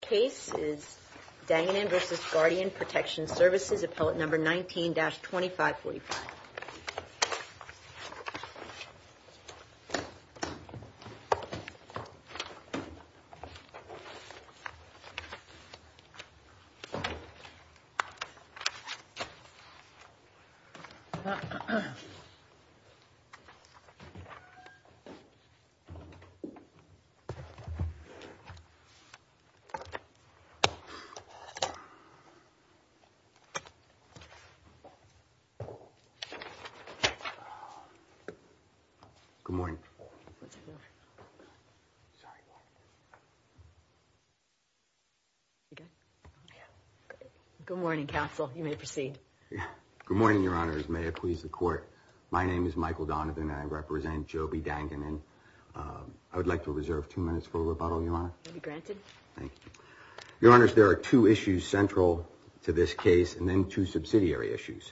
Case is Danganan v. Guardian Protection Services, appellate number 19-2545. Good morning. Good morning, counsel. You may proceed. Good morning, Your Honors. May it please the Court. My name is Michael Donovan and I represent Joby Danganan. I would like to reserve two minutes for rebuttal, Your Honor. You'll be granted. Thank you. Your Honors, there are two issues central to this case and then two subsidiary issues.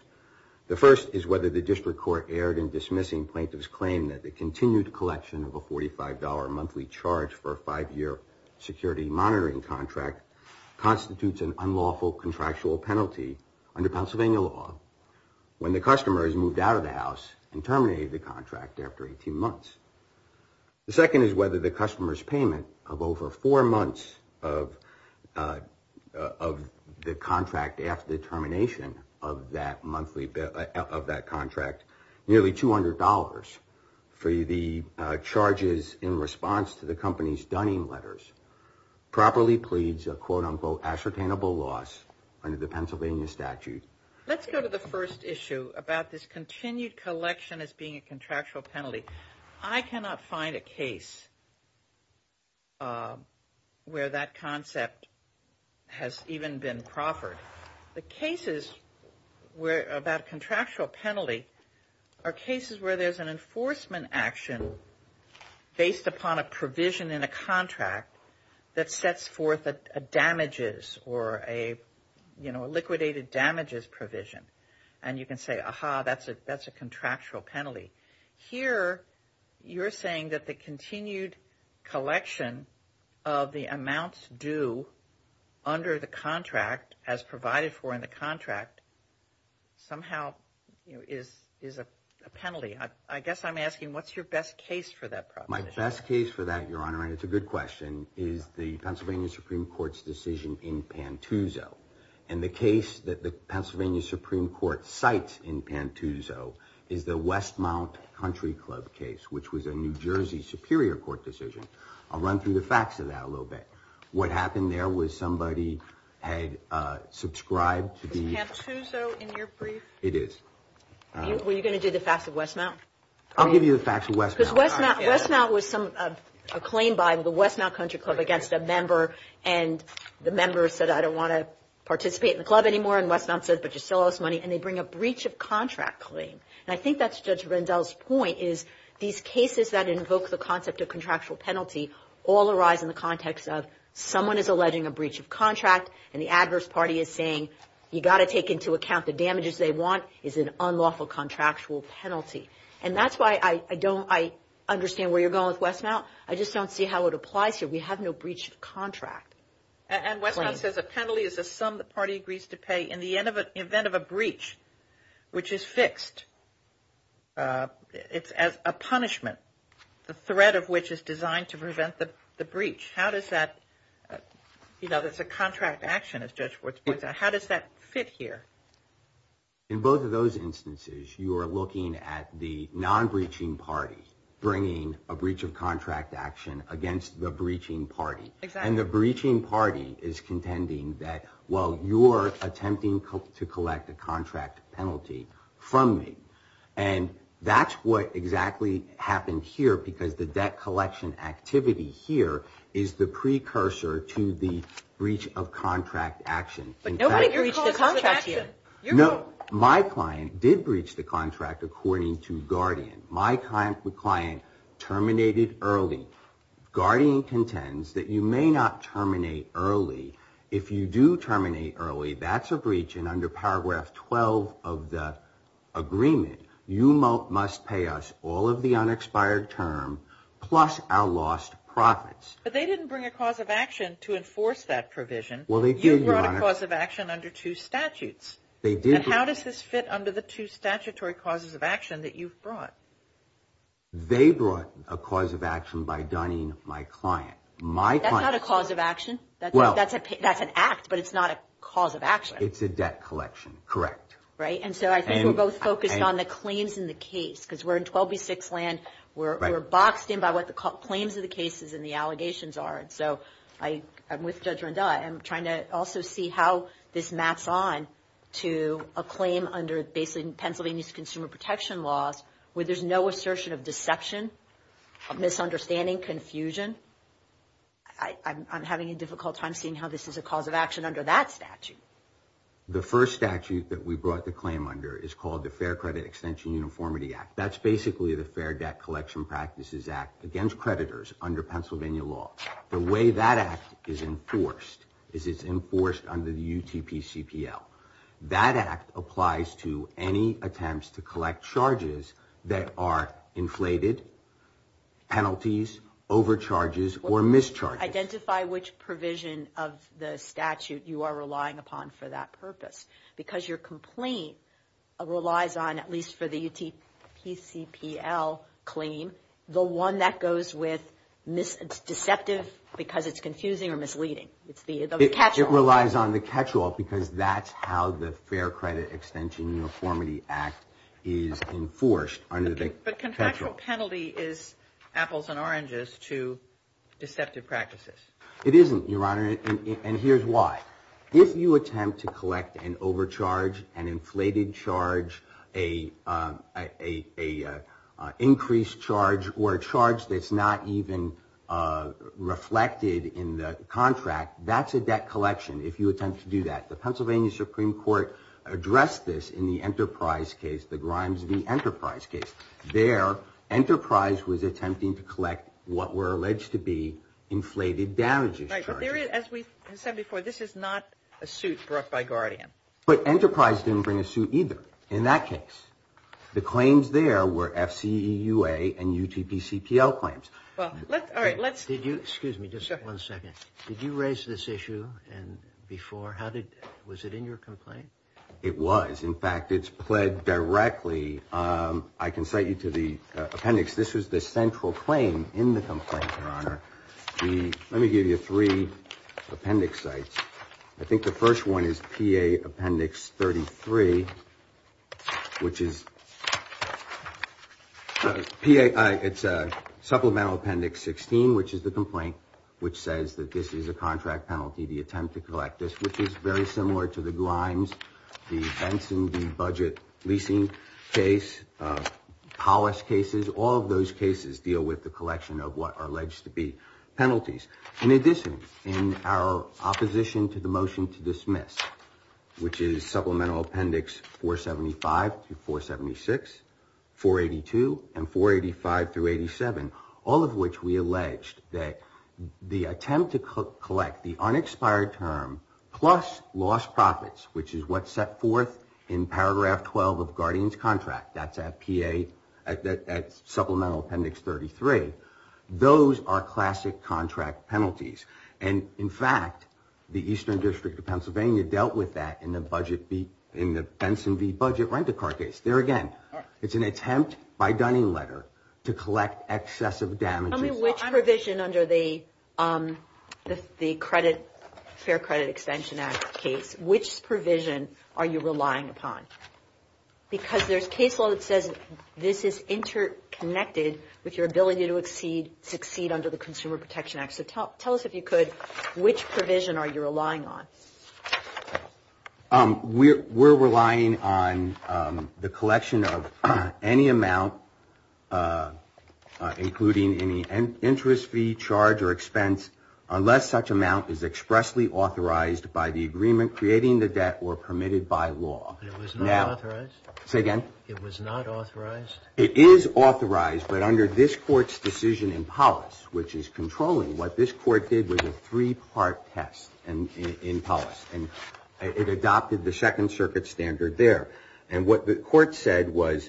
The first is whether the district court erred in dismissing plaintiff's claim that the continued collection of a $45 monthly charge for a five-year security monitoring contract constitutes an unlawful contractual penalty under Pennsylvania law when the customer has moved out of the house and terminated the contract after 18 months. The second is whether the customer's payment of over four months of the contract after the termination of that monthly, of that contract, nearly $200 for the charges in response to the company's Dunning letters properly pleads a quote-unquote ascertainable loss under the Pennsylvania statute. Let's go to the first one. The collection as being a contractual penalty. I cannot find a case where that concept has even been proffered. The cases about contractual penalty are cases where there's an enforcement action based upon a provision in a contract that sets forth a damages or a liquidated damages provision and you can say, aha, that's a contractual penalty. Here, you're saying that the continued collection of the amounts due under the contract as provided for in the contract somehow is a penalty. I guess I'm asking what's your best case for that provision? My best case for that, Your Honor, and it's a good question, is the Pennsylvania Supreme Court cites in Pantuzzo is the Westmount Country Club case, which was a New Jersey Superior Court decision. I'll run through the facts of that a little bit. What happened there was somebody had subscribed to the... Is Pantuzzo in your brief? It is. Were you going to do the facts of Westmount? I'll give you the facts of Westmount. Because Westmount was acclaimed by the Westmount Country Club against a member and the member said, I don't want to participate in the club anymore, and Westmount said, but you still owe us money, and they bring a breach of contract claim. I think that's Judge Rendell's point is these cases that invoke the concept of contractual penalty all arise in the context of someone is alleging a breach of contract and the adverse party is saying, you've got to take into account the damages they want is an unlawful contractual penalty. That's why I don't understand where you're going with Westmount. I just don't see how it applies here. We have no breach of contract. And Westmount says a penalty is a sum the party agrees to pay in the event of a breach, which is fixed. It's a punishment, the threat of which is designed to prevent the breach. How does that, you know, there's a contract action, as Judge Ford's point out. How does that fit here? In both of those instances, you are looking at the non-breaching party bringing a breach of contract action against the breaching party. And the breaching party is contending that, well, you're attempting to collect a contract penalty from me. And that's what exactly happened here because the debt collection activity here is the precursor to the breach of contract action. But nobody breached the contract here. No, my client did breach the contract according to Guardian. My client terminated early. Guardian contends that you may not terminate early. If you do terminate early, that's a breach. And under paragraph 12 of the agreement, you must pay us all of the unexpired term plus our lost profits. But they didn't bring a cause of action to enforce that provision. Well, they brought a cause of action under two statutes. And how does this fit under the two statutory causes of action that you've brought? They brought a cause of action by dunning my client. That's not a cause of action. That's an act, but it's not a cause of action. It's a debt collection. Correct. Right. And so I think we're both focused on the claims in the case because we're in 12b6 land. We're boxed in by what the claims of the cases and the allegations are. And so I'm with Judge Renda. I'm trying to also see how this maps on to a claim under basically Pennsylvania's consumer protection laws where there's no assertion of deception, of misunderstanding, confusion. I'm having a difficult time seeing how this is a cause of action under that statute. The first statute that we brought the claim under is called the Fair Credit Extension Uniformity Act. That's basically the Fair Debt Collection Practices Act against creditors under Pennsylvania law. The way that act is enforced is it's enforced under the UTPCPL. That act applies to any attempts to collect charges that are inflated, penalties, overcharges, or mischarges. Identify which provision of the statute you are relying upon for that purpose. Because your complaint relies on, at least for the one that goes with deceptive because it's confusing or misleading. It relies on the catch-all because that's how the Fair Credit Extension Uniformity Act is enforced under the catch-all. But contractual penalty is apples and oranges to deceptive practices. It isn't, Your Honor, and here's why. If you attempt to collect an overcharge, an inflated charge, a increased charge, or a charge that's not even reflected in the contract, that's a debt collection if you attempt to do that. The Pennsylvania Supreme Court addressed this in the Enterprise case, the Grimes v. Enterprise case. There, Enterprise was attempting to collect what were alleged to be inflated damages charges. Right, but there is, as we said before, this is not a suit brought by Guardian. But Enterprise didn't bring a suit either, in that case. The claims there were FCEUA and UTPCPL claims. Well, let's, all right, let's. Did you, excuse me, just one second. Did you raise this issue before? How did, was it in your complaint? It was. In fact, it's pled directly. I can cite you to the appendix. This was the central claim in the complaint, Your Honor. Let me give you three appendix sites. I think the appendix 33, which is, it's supplemental appendix 16, which is the complaint, which says that this is a contract penalty, the attempt to collect this, which is very similar to the Grimes v. Benson v. Budget leasing case, Powis cases. All of those cases deal with the collection of what are alleged to be penalties. In addition, in our opposition to the motion to dismiss, which is supplemental appendix 475-476, 482, and 485-87, all of which we alleged that the attempt to collect the unexpired term plus lost profits, which is what's set forth in paragraph 12 of Guardian's contract, that's at PA, that's supplemental appendix 33. Those are classic contract penalties. And in fact, the Eastern District of Pennsylvania dealt with that in the Benson v. Budget rent-a-car case. There again, it's an attempt by Dunning letter to collect excessive damages. Tell me which provision under the Fair Credit Extension Act case, which provision are you relying on? We're relying on the collection of any amount, including any interest fee, charge, or expense, unless such amount is expressly authorized by the agreement creating the debt or permitted by law. It was not authorized? Say again? It was not authorized? It is authorized, but under this Court's decision in Polis, which is controlling, what this Court did was a three-part test in Polis, and it adopted the Second Circuit standard there. And what the Court said was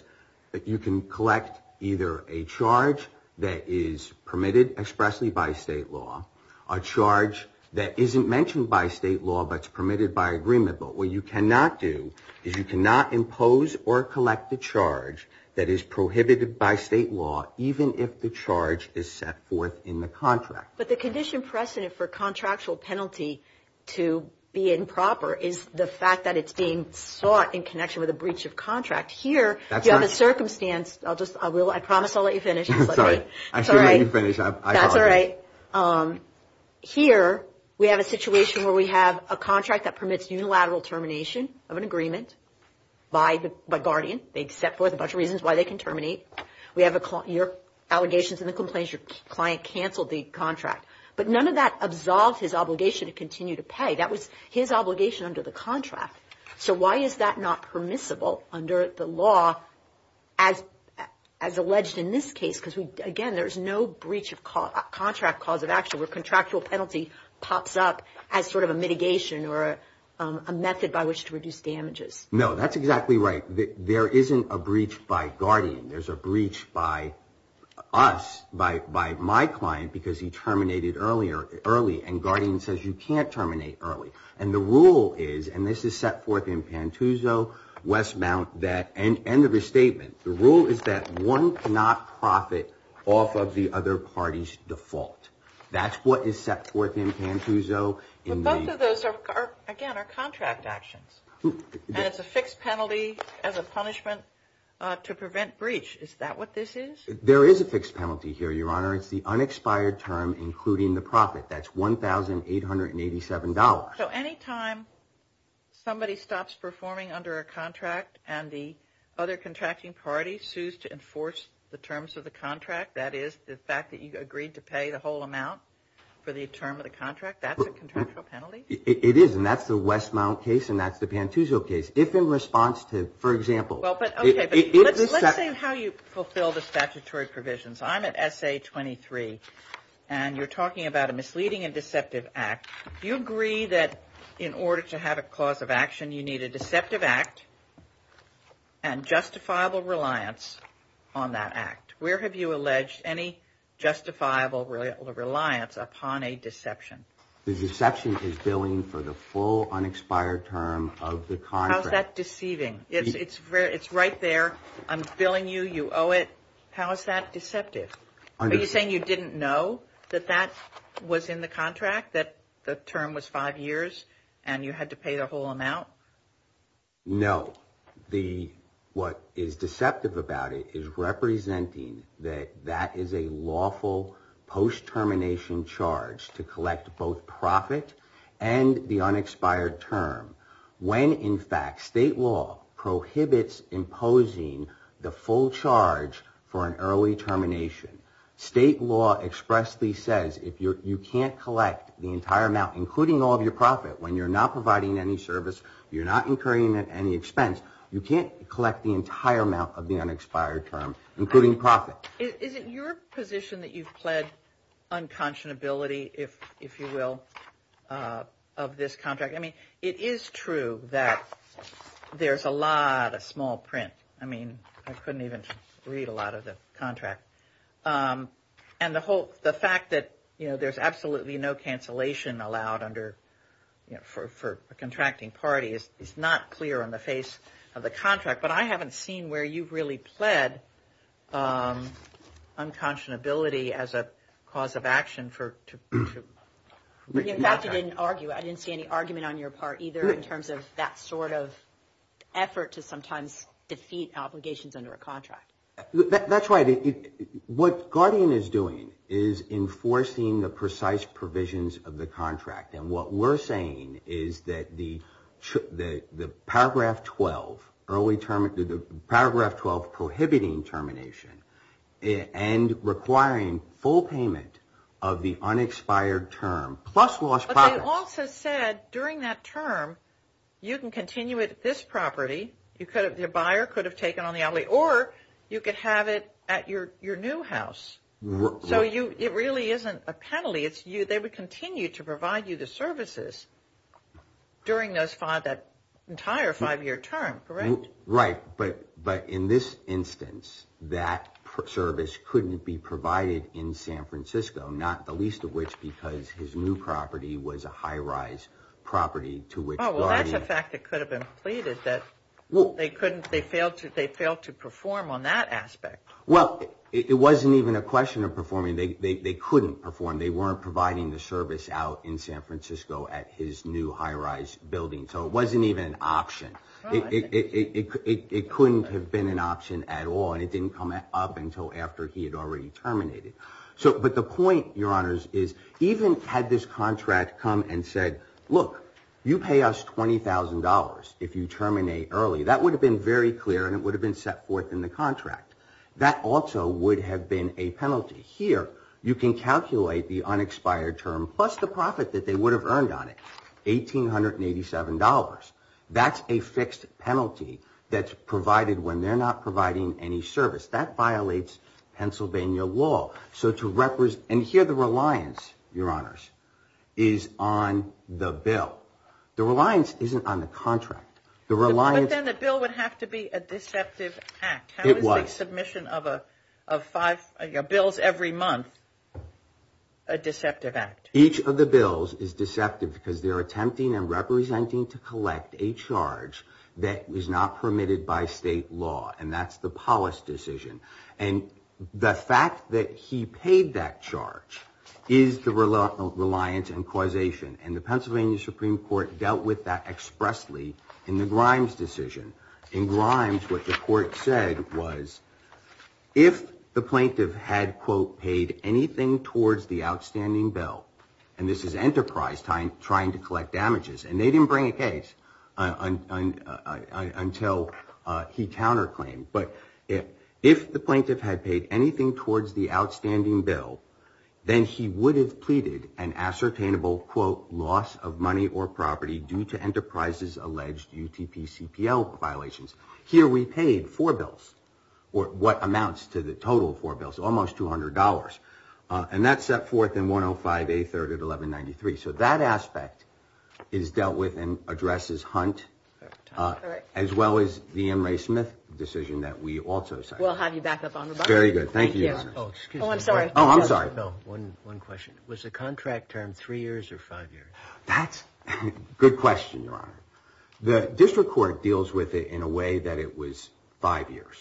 that you can collect either a charge that is permitted expressly by state law, a charge that isn't mentioned by state law but is permitted by state law, even if the charge is set forth in the contract. But the condition precedent for contractual penalty to be improper is the fact that it's being sought in connection with a breach of contract. Here, you have a circumstance, I'll just, I will, I promise I'll let you finish. Sorry, I should let you finish, I apologize. That's all right. Here, we have a situation where we have a contract that permits unilateral termination of an agreement by Guardian. They set forth a bunch of reasons why they can terminate. We have your allegations and the complaints, your client canceled the contract. But none of that absolved his obligation to continue to pay. That was his obligation under the contract. So why is that not permissible under the law as alleged in this case? Because, again, there's no breach of contract cause of action where contractual penalty pops up as sort of a mitigation or a method by which to reduce damages. No, that's exactly right. There isn't a breach by Guardian. There's a breach by us, by my client, because he terminated early and Guardian says you can't terminate early. And the rule is, and this is set forth in Pantuzzo, Westmount, that, end of his statement, the rule is that one cannot profit off of the other party's default. That's what is set forth in Pantuzzo. But both of those are, again, are contract actions. And it's a fixed penalty as a punishment to prevent breach. Is that what this is? There is a fixed penalty here, Your Honor. It's the unexpired term including the profit. That's $1,887. So any time somebody stops performing under a contract and the other contracting party sues to enforce the terms of the contract, that is the fact that you agreed to pay the full amount for the term of the contract, that's a contractual penalty? It is, and that's the Westmount case and that's the Pantuzzo case. If in response to, for example... Well, but, okay, but let's say how you fulfill the statutory provisions. I'm at SA-23 and you're talking about a misleading and deceptive act. You agree that in order to have a clause of action, you need a deceptive act and justifiable reliance on that act. Where have you alleged any justifiable reliance upon a deception? The deception is billing for the full unexpired term of the contract. How is that deceiving? It's right there. I'm billing you. You owe it. How is that deceptive? Are you saying you didn't know that that was in the contract, that the term was five years and you had to pay the whole amount? No. What is deceptive about it is representing that that is a lawful post-termination charge to collect both profit and the unexpired term when, in fact, state law prohibits imposing the full charge for an early termination. State law expressly says if you can't collect the entire amount, including all of your profit, when you're not providing any service, you're not incurring any expense, you can't collect the entire amount of the unexpired term, including profit. Is it your position that you've pled unconscionability, if you will, of this contract? It is true that there's a lot of small print. I mean, I couldn't even read a lot of the contract. And the whole, the fact that, you know, there's absolutely no cancellation allowed under, you know, for a contracting party is not clear on the face of the contract. But I haven't seen where you've really pled unconscionability as a cause of action for to... In fact, I didn't argue. I didn't see any argument on your part either in terms of that sort of effort to sometimes defeat obligations under a contract. That's right. What Guardian is doing is enforcing the precise provisions of the contract. And what we're saying is that the Paragraph 12 early term, the Paragraph 12 prohibiting termination and requiring full payment of the unexpired term, plus lost profits... But they also said during that term, you can continue with this property. You could have, your buyer could have taken on the outlay, or you could have it at your new house. So it really isn't a penalty. It's you, they would continue to provide you the services during those five, that entire five-year term, correct? Right. But in this instance, that service couldn't be provided in San Francisco, not the least of which because his new property was a high-rise property to which Guardian... They failed to perform on that aspect. Well, it wasn't even a question of performing. They couldn't perform. They weren't providing the service out in San Francisco at his new high-rise building. So it wasn't even an option. It couldn't have been an option at all, and it didn't come up until after he had already terminated. But the point, Your Honors, is even had this contract come and said, look, you pay us $20,000 if you terminate early, that would have been very clear and it would have been set forth in the contract. That also would have been a penalty. Here, you can calculate the unexpired term plus the profit that they would have earned on it, $1,887. That's a fixed penalty that's provided when they're not providing any service. That isn't on the contract. But then the bill would have to be a deceptive act. It was. How is the submission of five bills every month a deceptive act? Each of the bills is deceptive because they're attempting and representing to collect a charge that is not permitted by state law, and that's the Polis decision. And the fact that he paid that charge is the reliance and causation. And the Pennsylvania Supreme Court dealt with that expressly in the Grimes decision. In Grimes, what the court said was if the plaintiff had, quote, paid anything towards the outstanding bill, and this is Enterprise trying to collect damages, and they didn't bring a case until he counterclaimed, but if the plaintiff had paid anything towards the outstanding bill, then he would have pleaded an ascertainable, quote, loss of money or property due to Enterprise's alleged UTP-CPL violations. Here we paid four bills, or what amounts to the total of four bills, almost $200. And that's set forth in 105A3 at 1193. So that aspect is dealt with and addresses Hunt, as well as the M. Ray Smith decision that we also signed. We'll have you back up on the line. Very good. Thank you, Your Honor. Oh, excuse me. Oh, I'm sorry. Oh, I'm sorry. No, one question. Was the contract term three years or five years? That's a good question, Your Honor. The district court deals with it in a way that it was five years.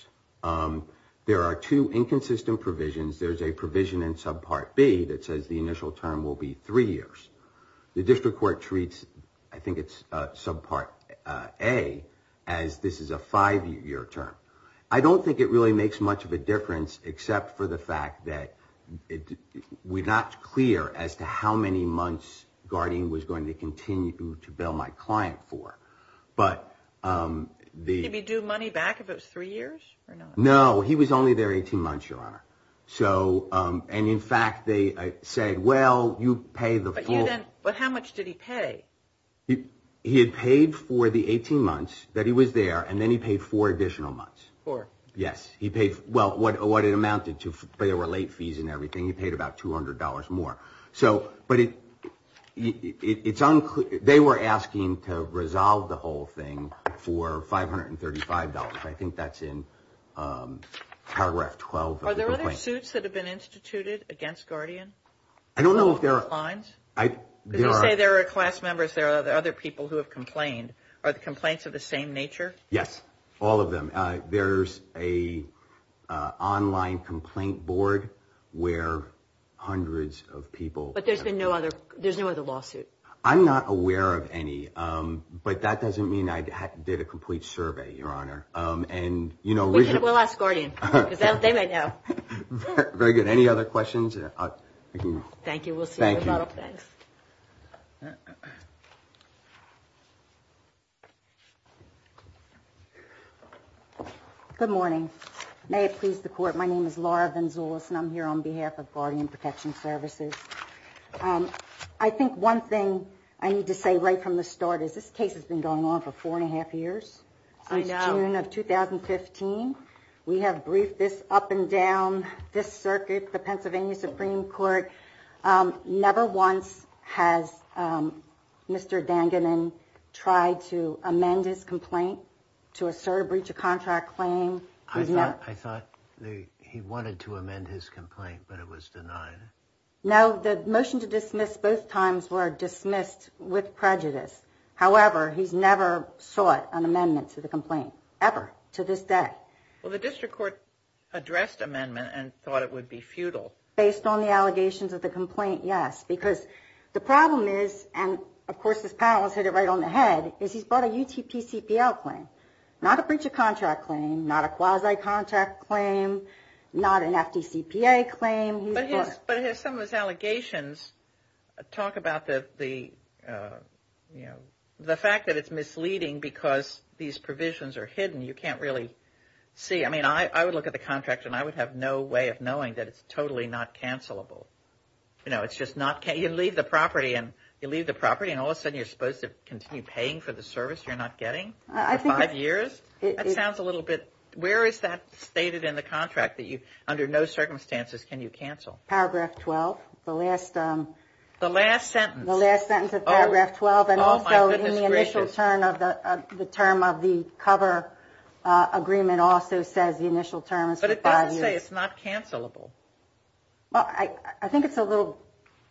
There are two inconsistent provisions. There's a provision in subpart B that says the initial term will be three years. The district court treats, I think it's subpart A, as this is a five-year term. I don't think it really makes much of a difference except for the fact that we're not clear as to how many months Guardian was going to continue to bill my client for. Did he due money back if it was three years or not? No, he was only there 18 months, Your Honor. And in fact, they said, well, you pay the full. But how much did he pay? He had paid for the 18 months that he was there, and then he paid four additional months. Four. Yes. He paid, well, what it amounted to, but there were late fees and everything. He paid about $200 more. So, but it's unclear. They were asking to resolve the whole thing for $535. I think that's in paragraph 12. Are there other suits that have been instituted against Guardian? I don't know if there are. Did you say there are class members, there are other people who have complained? Are the complaints of the same nature? Yes, all of them. There's an online complaint board where hundreds of people. But there's been no other, there's no other lawsuit? I'm not aware of any, but that doesn't mean I did a complete survey, Your Honor. We'll ask Guardian, because they might know. Very good. Any other questions? Thank you. We'll see you in a little bit. Good morning. May it please the Court, my name is Laura Venzoulis, and I'm here on behalf of Guardian Protection Services. I think one thing I need to say right from the start is this case has been going on for four and a half years. I know. Since June of 2015, we have briefed this up and down this circuit, the Pennsylvania Supreme Court. Never once has Mr. Danganon tried to amend his complaint to assert a breach of contract claim. I thought he wanted to amend his complaint, but it was denied. No, the motion to dismiss both times were dismissed with prejudice. However, he's never sought an amendment to the complaint, ever, to this day. Well, the district court addressed amendment and thought it would be futile. Based on the allegations of the complaint, yes. Because the problem is, and of course this panel has hit it right on the head, is he's brought a UTPCPL claim. Not a breach of contract claim, not a quasi-contract claim, not an FDCPA claim. But some of his allegations talk about the fact that it's misleading because these provisions are hidden. You can't really see. I mean, I would look at the contract and I would have no way of knowing that it's totally not cancelable. You know, it's just not, you leave the property and all of a sudden you're supposed to continue paying for the service you're not getting for five years? That sounds a little bit, where is that stated in the contract that you, under no circumstances can you cancel? Paragraph 12. The last. The last sentence. The last sentence of paragraph 12. Oh, my goodness gracious. And also in the initial term of the cover agreement also says the initial term is for five years. But it doesn't say it's not cancelable. I think it's a little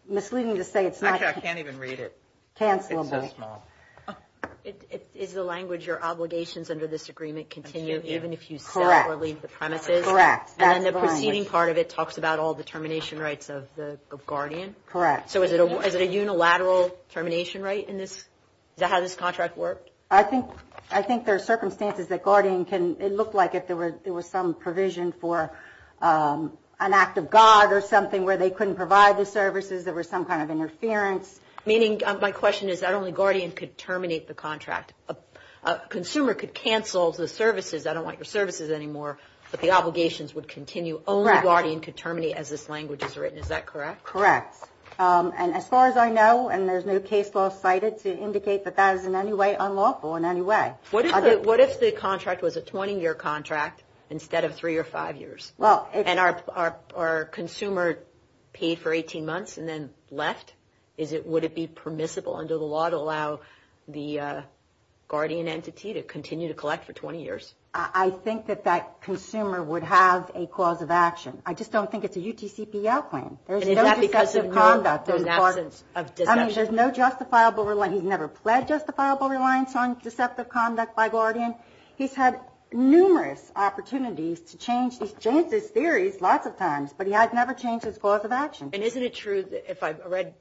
misleading to say it's not. Actually, I can't even read it. Cancelable. It's so small. Is the language your obligations under this agreement continue even if you sell or leave the premises? Correct. And the proceeding part of it talks about all the termination rights of the guardian? Correct. So is it a unilateral termination right in this? Is that how this contract worked? I think there are circumstances that guardian can, it looked like there was some provision for an act of God or something where they couldn't provide the services. There was some kind of interference. Meaning, my question is that only guardian could terminate the contract. A consumer could cancel the services. I don't want your services anymore. But the obligations would continue. Only guardian could terminate as this language is written. Is that correct? Correct. And as far as I know, and there's no case law cited to indicate that that is in any way unlawful in any way. What if the contract was a 20-year contract instead of three or five years? And our consumer paid for 18 months and then left? Would it be permissible under the law to allow the guardian entity to continue to collect for 20 years? I think that that consumer would have a cause of action. I just don't think it's a UTCPL plan. There's no deceptive conduct. There's absence of deception. I mean, there's no justifiable, he's never pled justifiable reliance on deceptive conduct by guardian. He's had numerous opportunities to change his theories lots of times, but he has never changed his cause of action. And isn't it true that if I read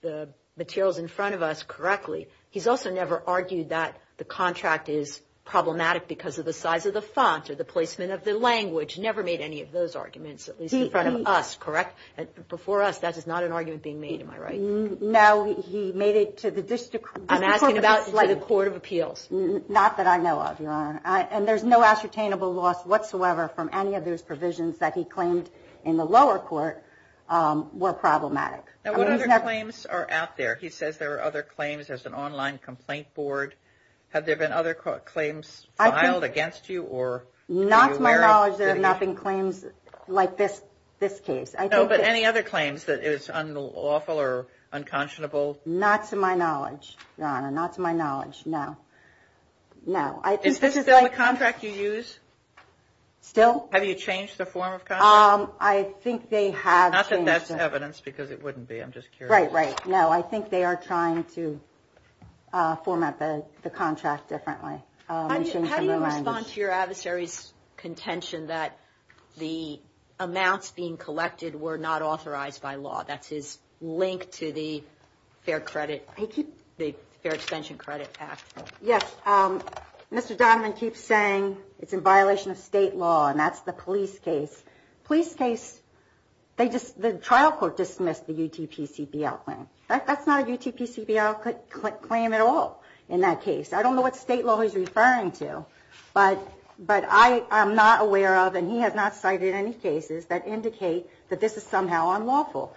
the materials in front of us correctly, he's also never argued that the contract is problematic because of the size of the font or the placement of the language, never made any of those arguments, at least in front of us, correct? Before us, that is not an argument being made, am I right? No, he made it to the district court of appeals. I'm asking about the court of appeals. Not that I know of, Your Honor. And there's no ascertainable loss whatsoever from any of those provisions that he claimed in the lower court were problematic. Now, what other claims are out there? He says there are other claims. There's an online complaint board. Have there been other claims filed against you? Not to my knowledge, there have not been claims like this case. No, but any other claims that is unlawful or unconscionable? Not to my knowledge, Your Honor. Not to my knowledge, no. Is this still the contract you use? Still. Have you changed the form of contract? I think they have changed it. Not that that's evidence, because it wouldn't be. I'm just curious. Right, right. No, I think they are trying to format the contract differently. How do you respond to your adversary's contention that the amounts being collected were not authorized by law? That's his link to the Fair Credit, the Fair Extension Credit Act. Yes, Mr. Donovan keeps saying it's in violation of state law, and that's the police case. Police case, they just, the trial court dismissed the UTPCBL claim. That's not a UTPCBL claim at all in that case. I don't know what state law he's referring to, but I am not aware of, and he has not cited any cases that indicate that this is somehow unlawful.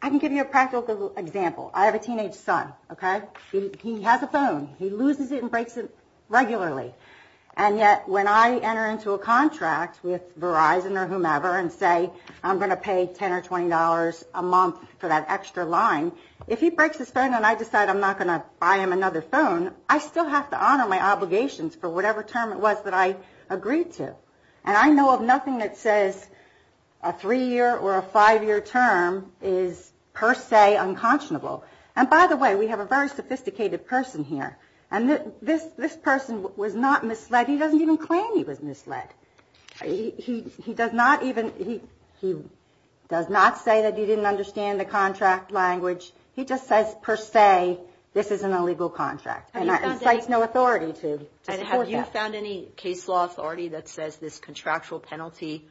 I can give you a practical example. I have a teenage son, okay? He has a phone. He loses it and breaks it regularly. And yet, when I enter into a contract with Verizon or whomever and say I'm going to pay $10 or $20 a month for that extra line, if he breaks his phone and I decide I'm not going to buy him another phone, I still have to honor my obligations for whatever term it was that I agreed to. And I know of nothing that says a three-year or a five-year term is per se unconscionable. And by the way, we have a very sophisticated person here, and this person was not misled. He doesn't even claim he was misled. He does not even, he does not say that he didn't understand the contract language. He just says per se this is an illegal contract and cites no authority to support that. Have you found any case law authority that says this contractual penalty,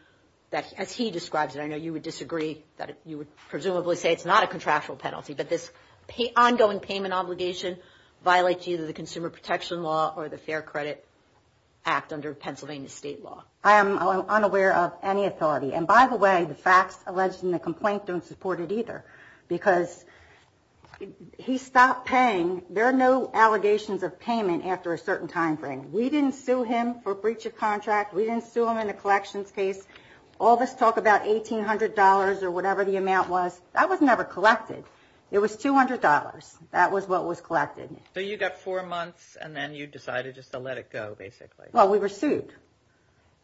as he describes it, I know you would disagree that you would presumably say it's not a contractual penalty, but this ongoing payment obligation violates either the Consumer Protection Law or the Fair Credit Act under Pennsylvania state law. I am unaware of any authority. And by the way, the facts alleged in the complaint don't support it either because he stopped paying. There are no allegations of payment after a certain time frame. We didn't sue him for breach of contract. We didn't sue him in the collections case. All this talk about $1,800 or whatever the amount was, that was never collected. It was $200. That was what was collected. So you got four months, and then you decided just to let it go, basically. Well, we were sued.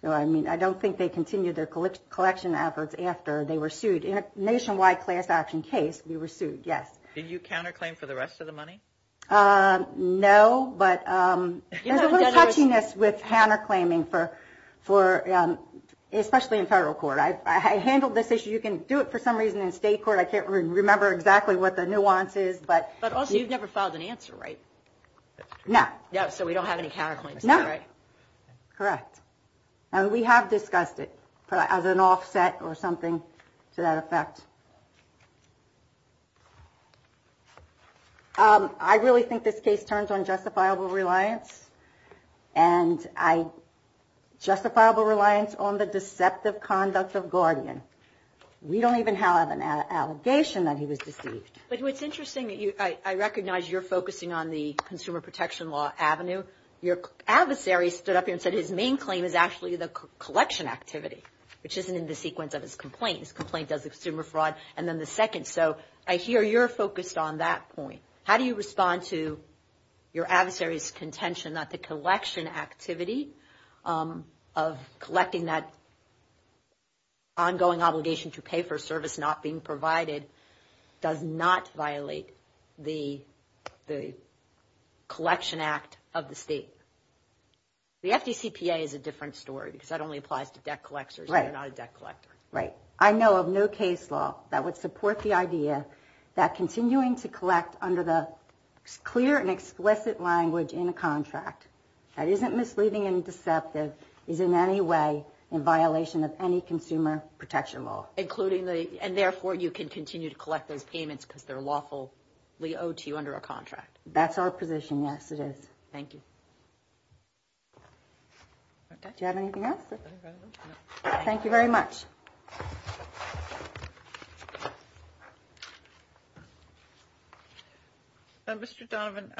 I mean, I don't think they continued their collection efforts after they were sued. In a nationwide class action case, we were sued, yes. Did you counterclaim for the rest of the money? No, but there's a little touchiness with counterclaiming, especially in federal court. I handled this issue. You can do it for some reason in state court. I can't remember exactly what the nuance is. But also, you've never filed an answer, right? No. So we don't have any counterclaims, right? No. Correct. And we have discussed it as an offset or something to that effect. I really think this case turns on justifiable reliance, and justifiable reliance on the deceptive conduct of Guardian. We don't even have an allegation that he was deceived. But what's interesting, I recognize you're focusing on the consumer protection law avenue. Your adversary stood up here and said his main claim is actually the collection activity, which isn't in the sequence of his complaint. His complaint does consumer fraud, and then the second. So I hear you're focused on that point. How do you respond to your adversary's contention that the collection activity of collecting that ongoing obligation to pay for a service not being provided does not violate the collection act of the state? The FDCPA is a different story, because that only applies to debt collectors. Right. I know of no case law that would support the idea that continuing to collect under the clear and explicit language in a contract that isn't misleading and deceptive is in any way in violation of any consumer protection law. And therefore, you can continue to collect those payments because they're lawfully owed to you under a contract. That's our position, yes, it is. Thank you. Do you have anything else? No. Thank you very much. Mr. Donovan,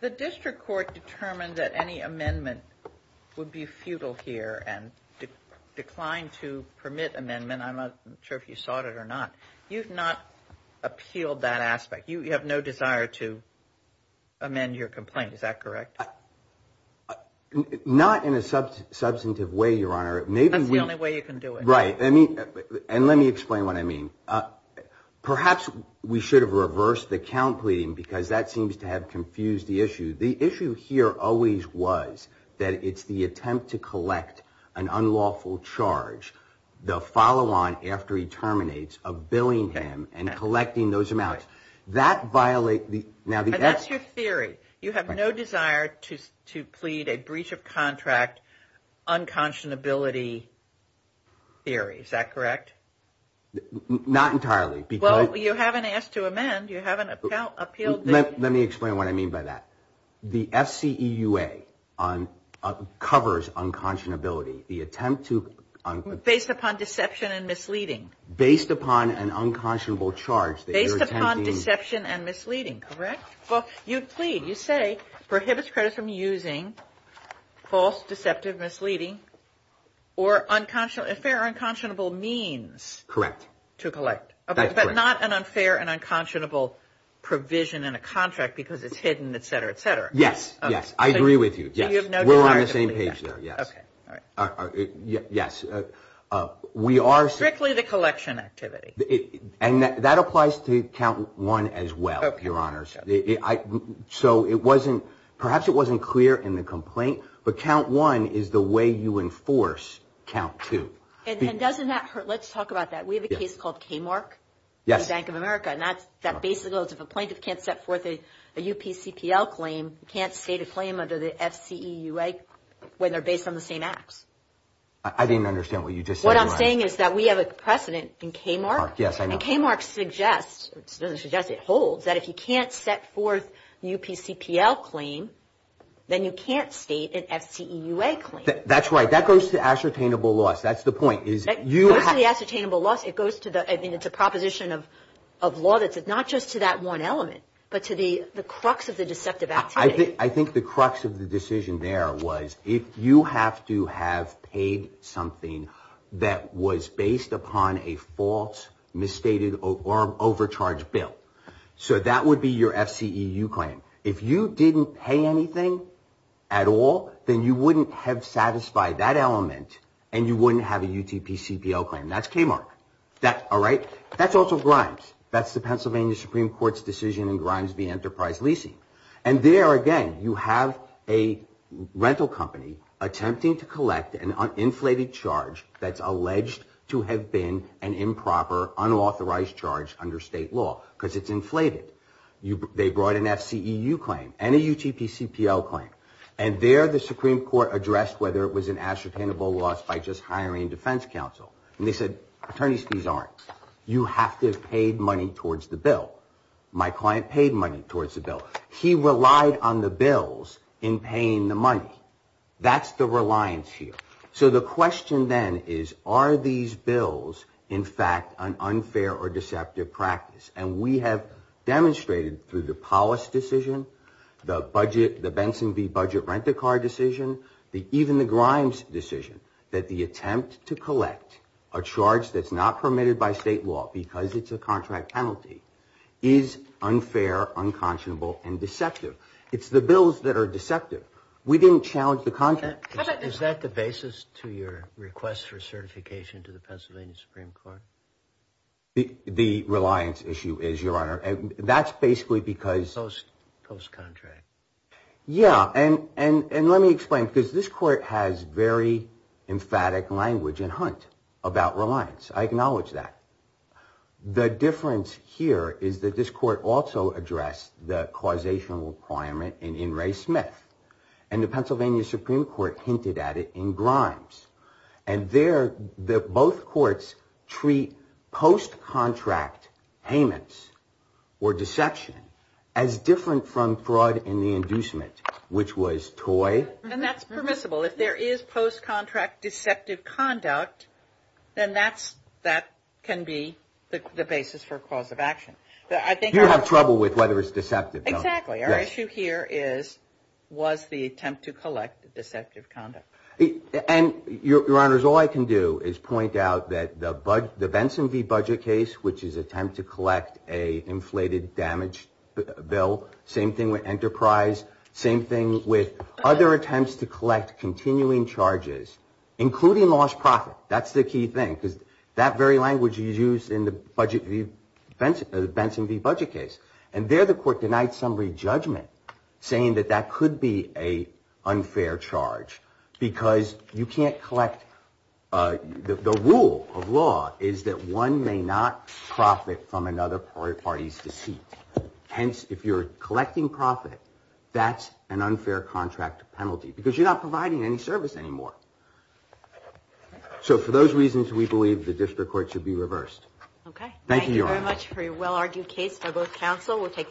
the district court determined that any amendment would be futile here and declined to permit amendment. I'm not sure if you sought it or not. You've not appealed that aspect. You have no desire to amend your complaint. Is that correct? Not in a substantive way, Your Honor. That's the only way you can do it. Right. And let me explain what I mean. Perhaps we should have reversed the count pleading, because that seems to have confused the issue. The issue here always was that it's the attempt to collect an unlawful charge, the follow-on after he terminates, of billing him and collecting those amounts. That violates the – That's your theory. You have no desire to plead a breach of contract unconscionability theory. Is that correct? Not entirely. Well, you haven't asked to amend. You haven't appealed. Let me explain what I mean by that. The FCEUA covers unconscionability. The attempt to – Based upon deception and misleading. Based upon an unconscionable charge. Based upon deception and misleading. Correct? Well, you plead. You say prohibits creditors from using false, deceptive, misleading, or unfair or unconscionable means. Correct. To collect. That's correct. But not an unfair and unconscionable provision in a contract because it's hidden, et cetera, et cetera. Yes. Yes. I agree with you. Yes. You have no desire to plead that. We're on the same page there. Yes. Okay. All right. Yes. We are – Strictly the collection activity. And that applies to count one as well, Your Honors. Okay. Okay. So it wasn't – perhaps it wasn't clear in the complaint, but count one is the way you enforce count two. And doesn't that – let's talk about that. We have a case called KMARC. Yes. Bank of America. And that's – that basically goes if a plaintiff can't set forth a UPCPL claim, can't state a claim under the FCEUA when they're based on the same acts. I didn't understand what you just said. What I'm saying is that we have a precedent in KMARC. Yes, I know. And KMARC suggests – it doesn't suggest, it holds that if you can't set forth the UPCPL claim, then you can't state an FCEUA claim. That's right. That goes to ascertainable loss. That's the point, is you have – It goes to the ascertainable loss. It goes to the – I mean, it's a proposition of law that's not just to that one element, but to the crux of the deceptive activity. I think the crux of the decision there was if you have to have paid something that was based upon a false, misstated, or overcharged bill. So that would be your FCEU claim. If you didn't pay anything at all, then you wouldn't have satisfied that element and you wouldn't have a UTPCPL claim. That's KMARC. All right? That's also Grimes. That's the Pennsylvania Supreme Court's decision in Grimes v. Enterprise Leasing. And there, again, you have a rental company attempting to collect an uninflated charge that's alleged to have been an improper, unauthorized charge under state law because it's inflated. They brought an FCEU claim and a UTPCPL claim. And there the Supreme Court addressed whether it was an ascertainable loss by just hiring defense counsel. And they said, attorney's fees aren't. You have to have paid money towards the bill. My client paid money towards the bill. He relied on the bills in paying the money. That's the reliance here. So the question then is, are these bills, in fact, an unfair or deceptive practice? And we have demonstrated through the Powis decision, the Benson v. Budget Rent-a-Car decision, even the Grimes decision, that the attempt to collect a charge that's not permitted by state law because it's a contract penalty is unfair, unconscionable, and deceptive. It's the bills that are deceptive. We didn't challenge the contract. Is that the basis to your request for certification to the Pennsylvania Supreme Court? The reliance issue is, Your Honor. That's basically because. Post-contract. Yeah. And let me explain. Because this court has very emphatic language and hunt about reliance. I acknowledge that. The difference here is that this court also addressed the causation requirement in Ray Smith. And the Pennsylvania Supreme Court hinted at it in Grimes. And there, both courts treat post-contract payments or deception as different from fraud in the inducement, which was toy. And that's permissible. If there is post-contract deceptive conduct, then that can be the basis for cause of action. You have trouble with whether it's deceptive. Exactly. Our issue here is, was the attempt to collect deceptive conduct. And, Your Honors, all I can do is point out that the Benson v. Budget case, which is an attempt to collect an inflated damage bill, same thing with Enterprise, same thing with other attempts to collect continuing charges, including lost profit. That's the key thing. Because that very language is used in the Benson v. Budget case. And there the court denied summary judgment, saying that that could be an unfair charge. Because you can't collect. The rule of law is that one may not profit from another party's deceit. Hence, if you're collecting profit, that's an unfair contract penalty because you're not providing any service anymore. So for those reasons, we believe the district court should be reversed. Thank you, Your Honors. Thank you very much for your well-argued case, Douglas Counsel.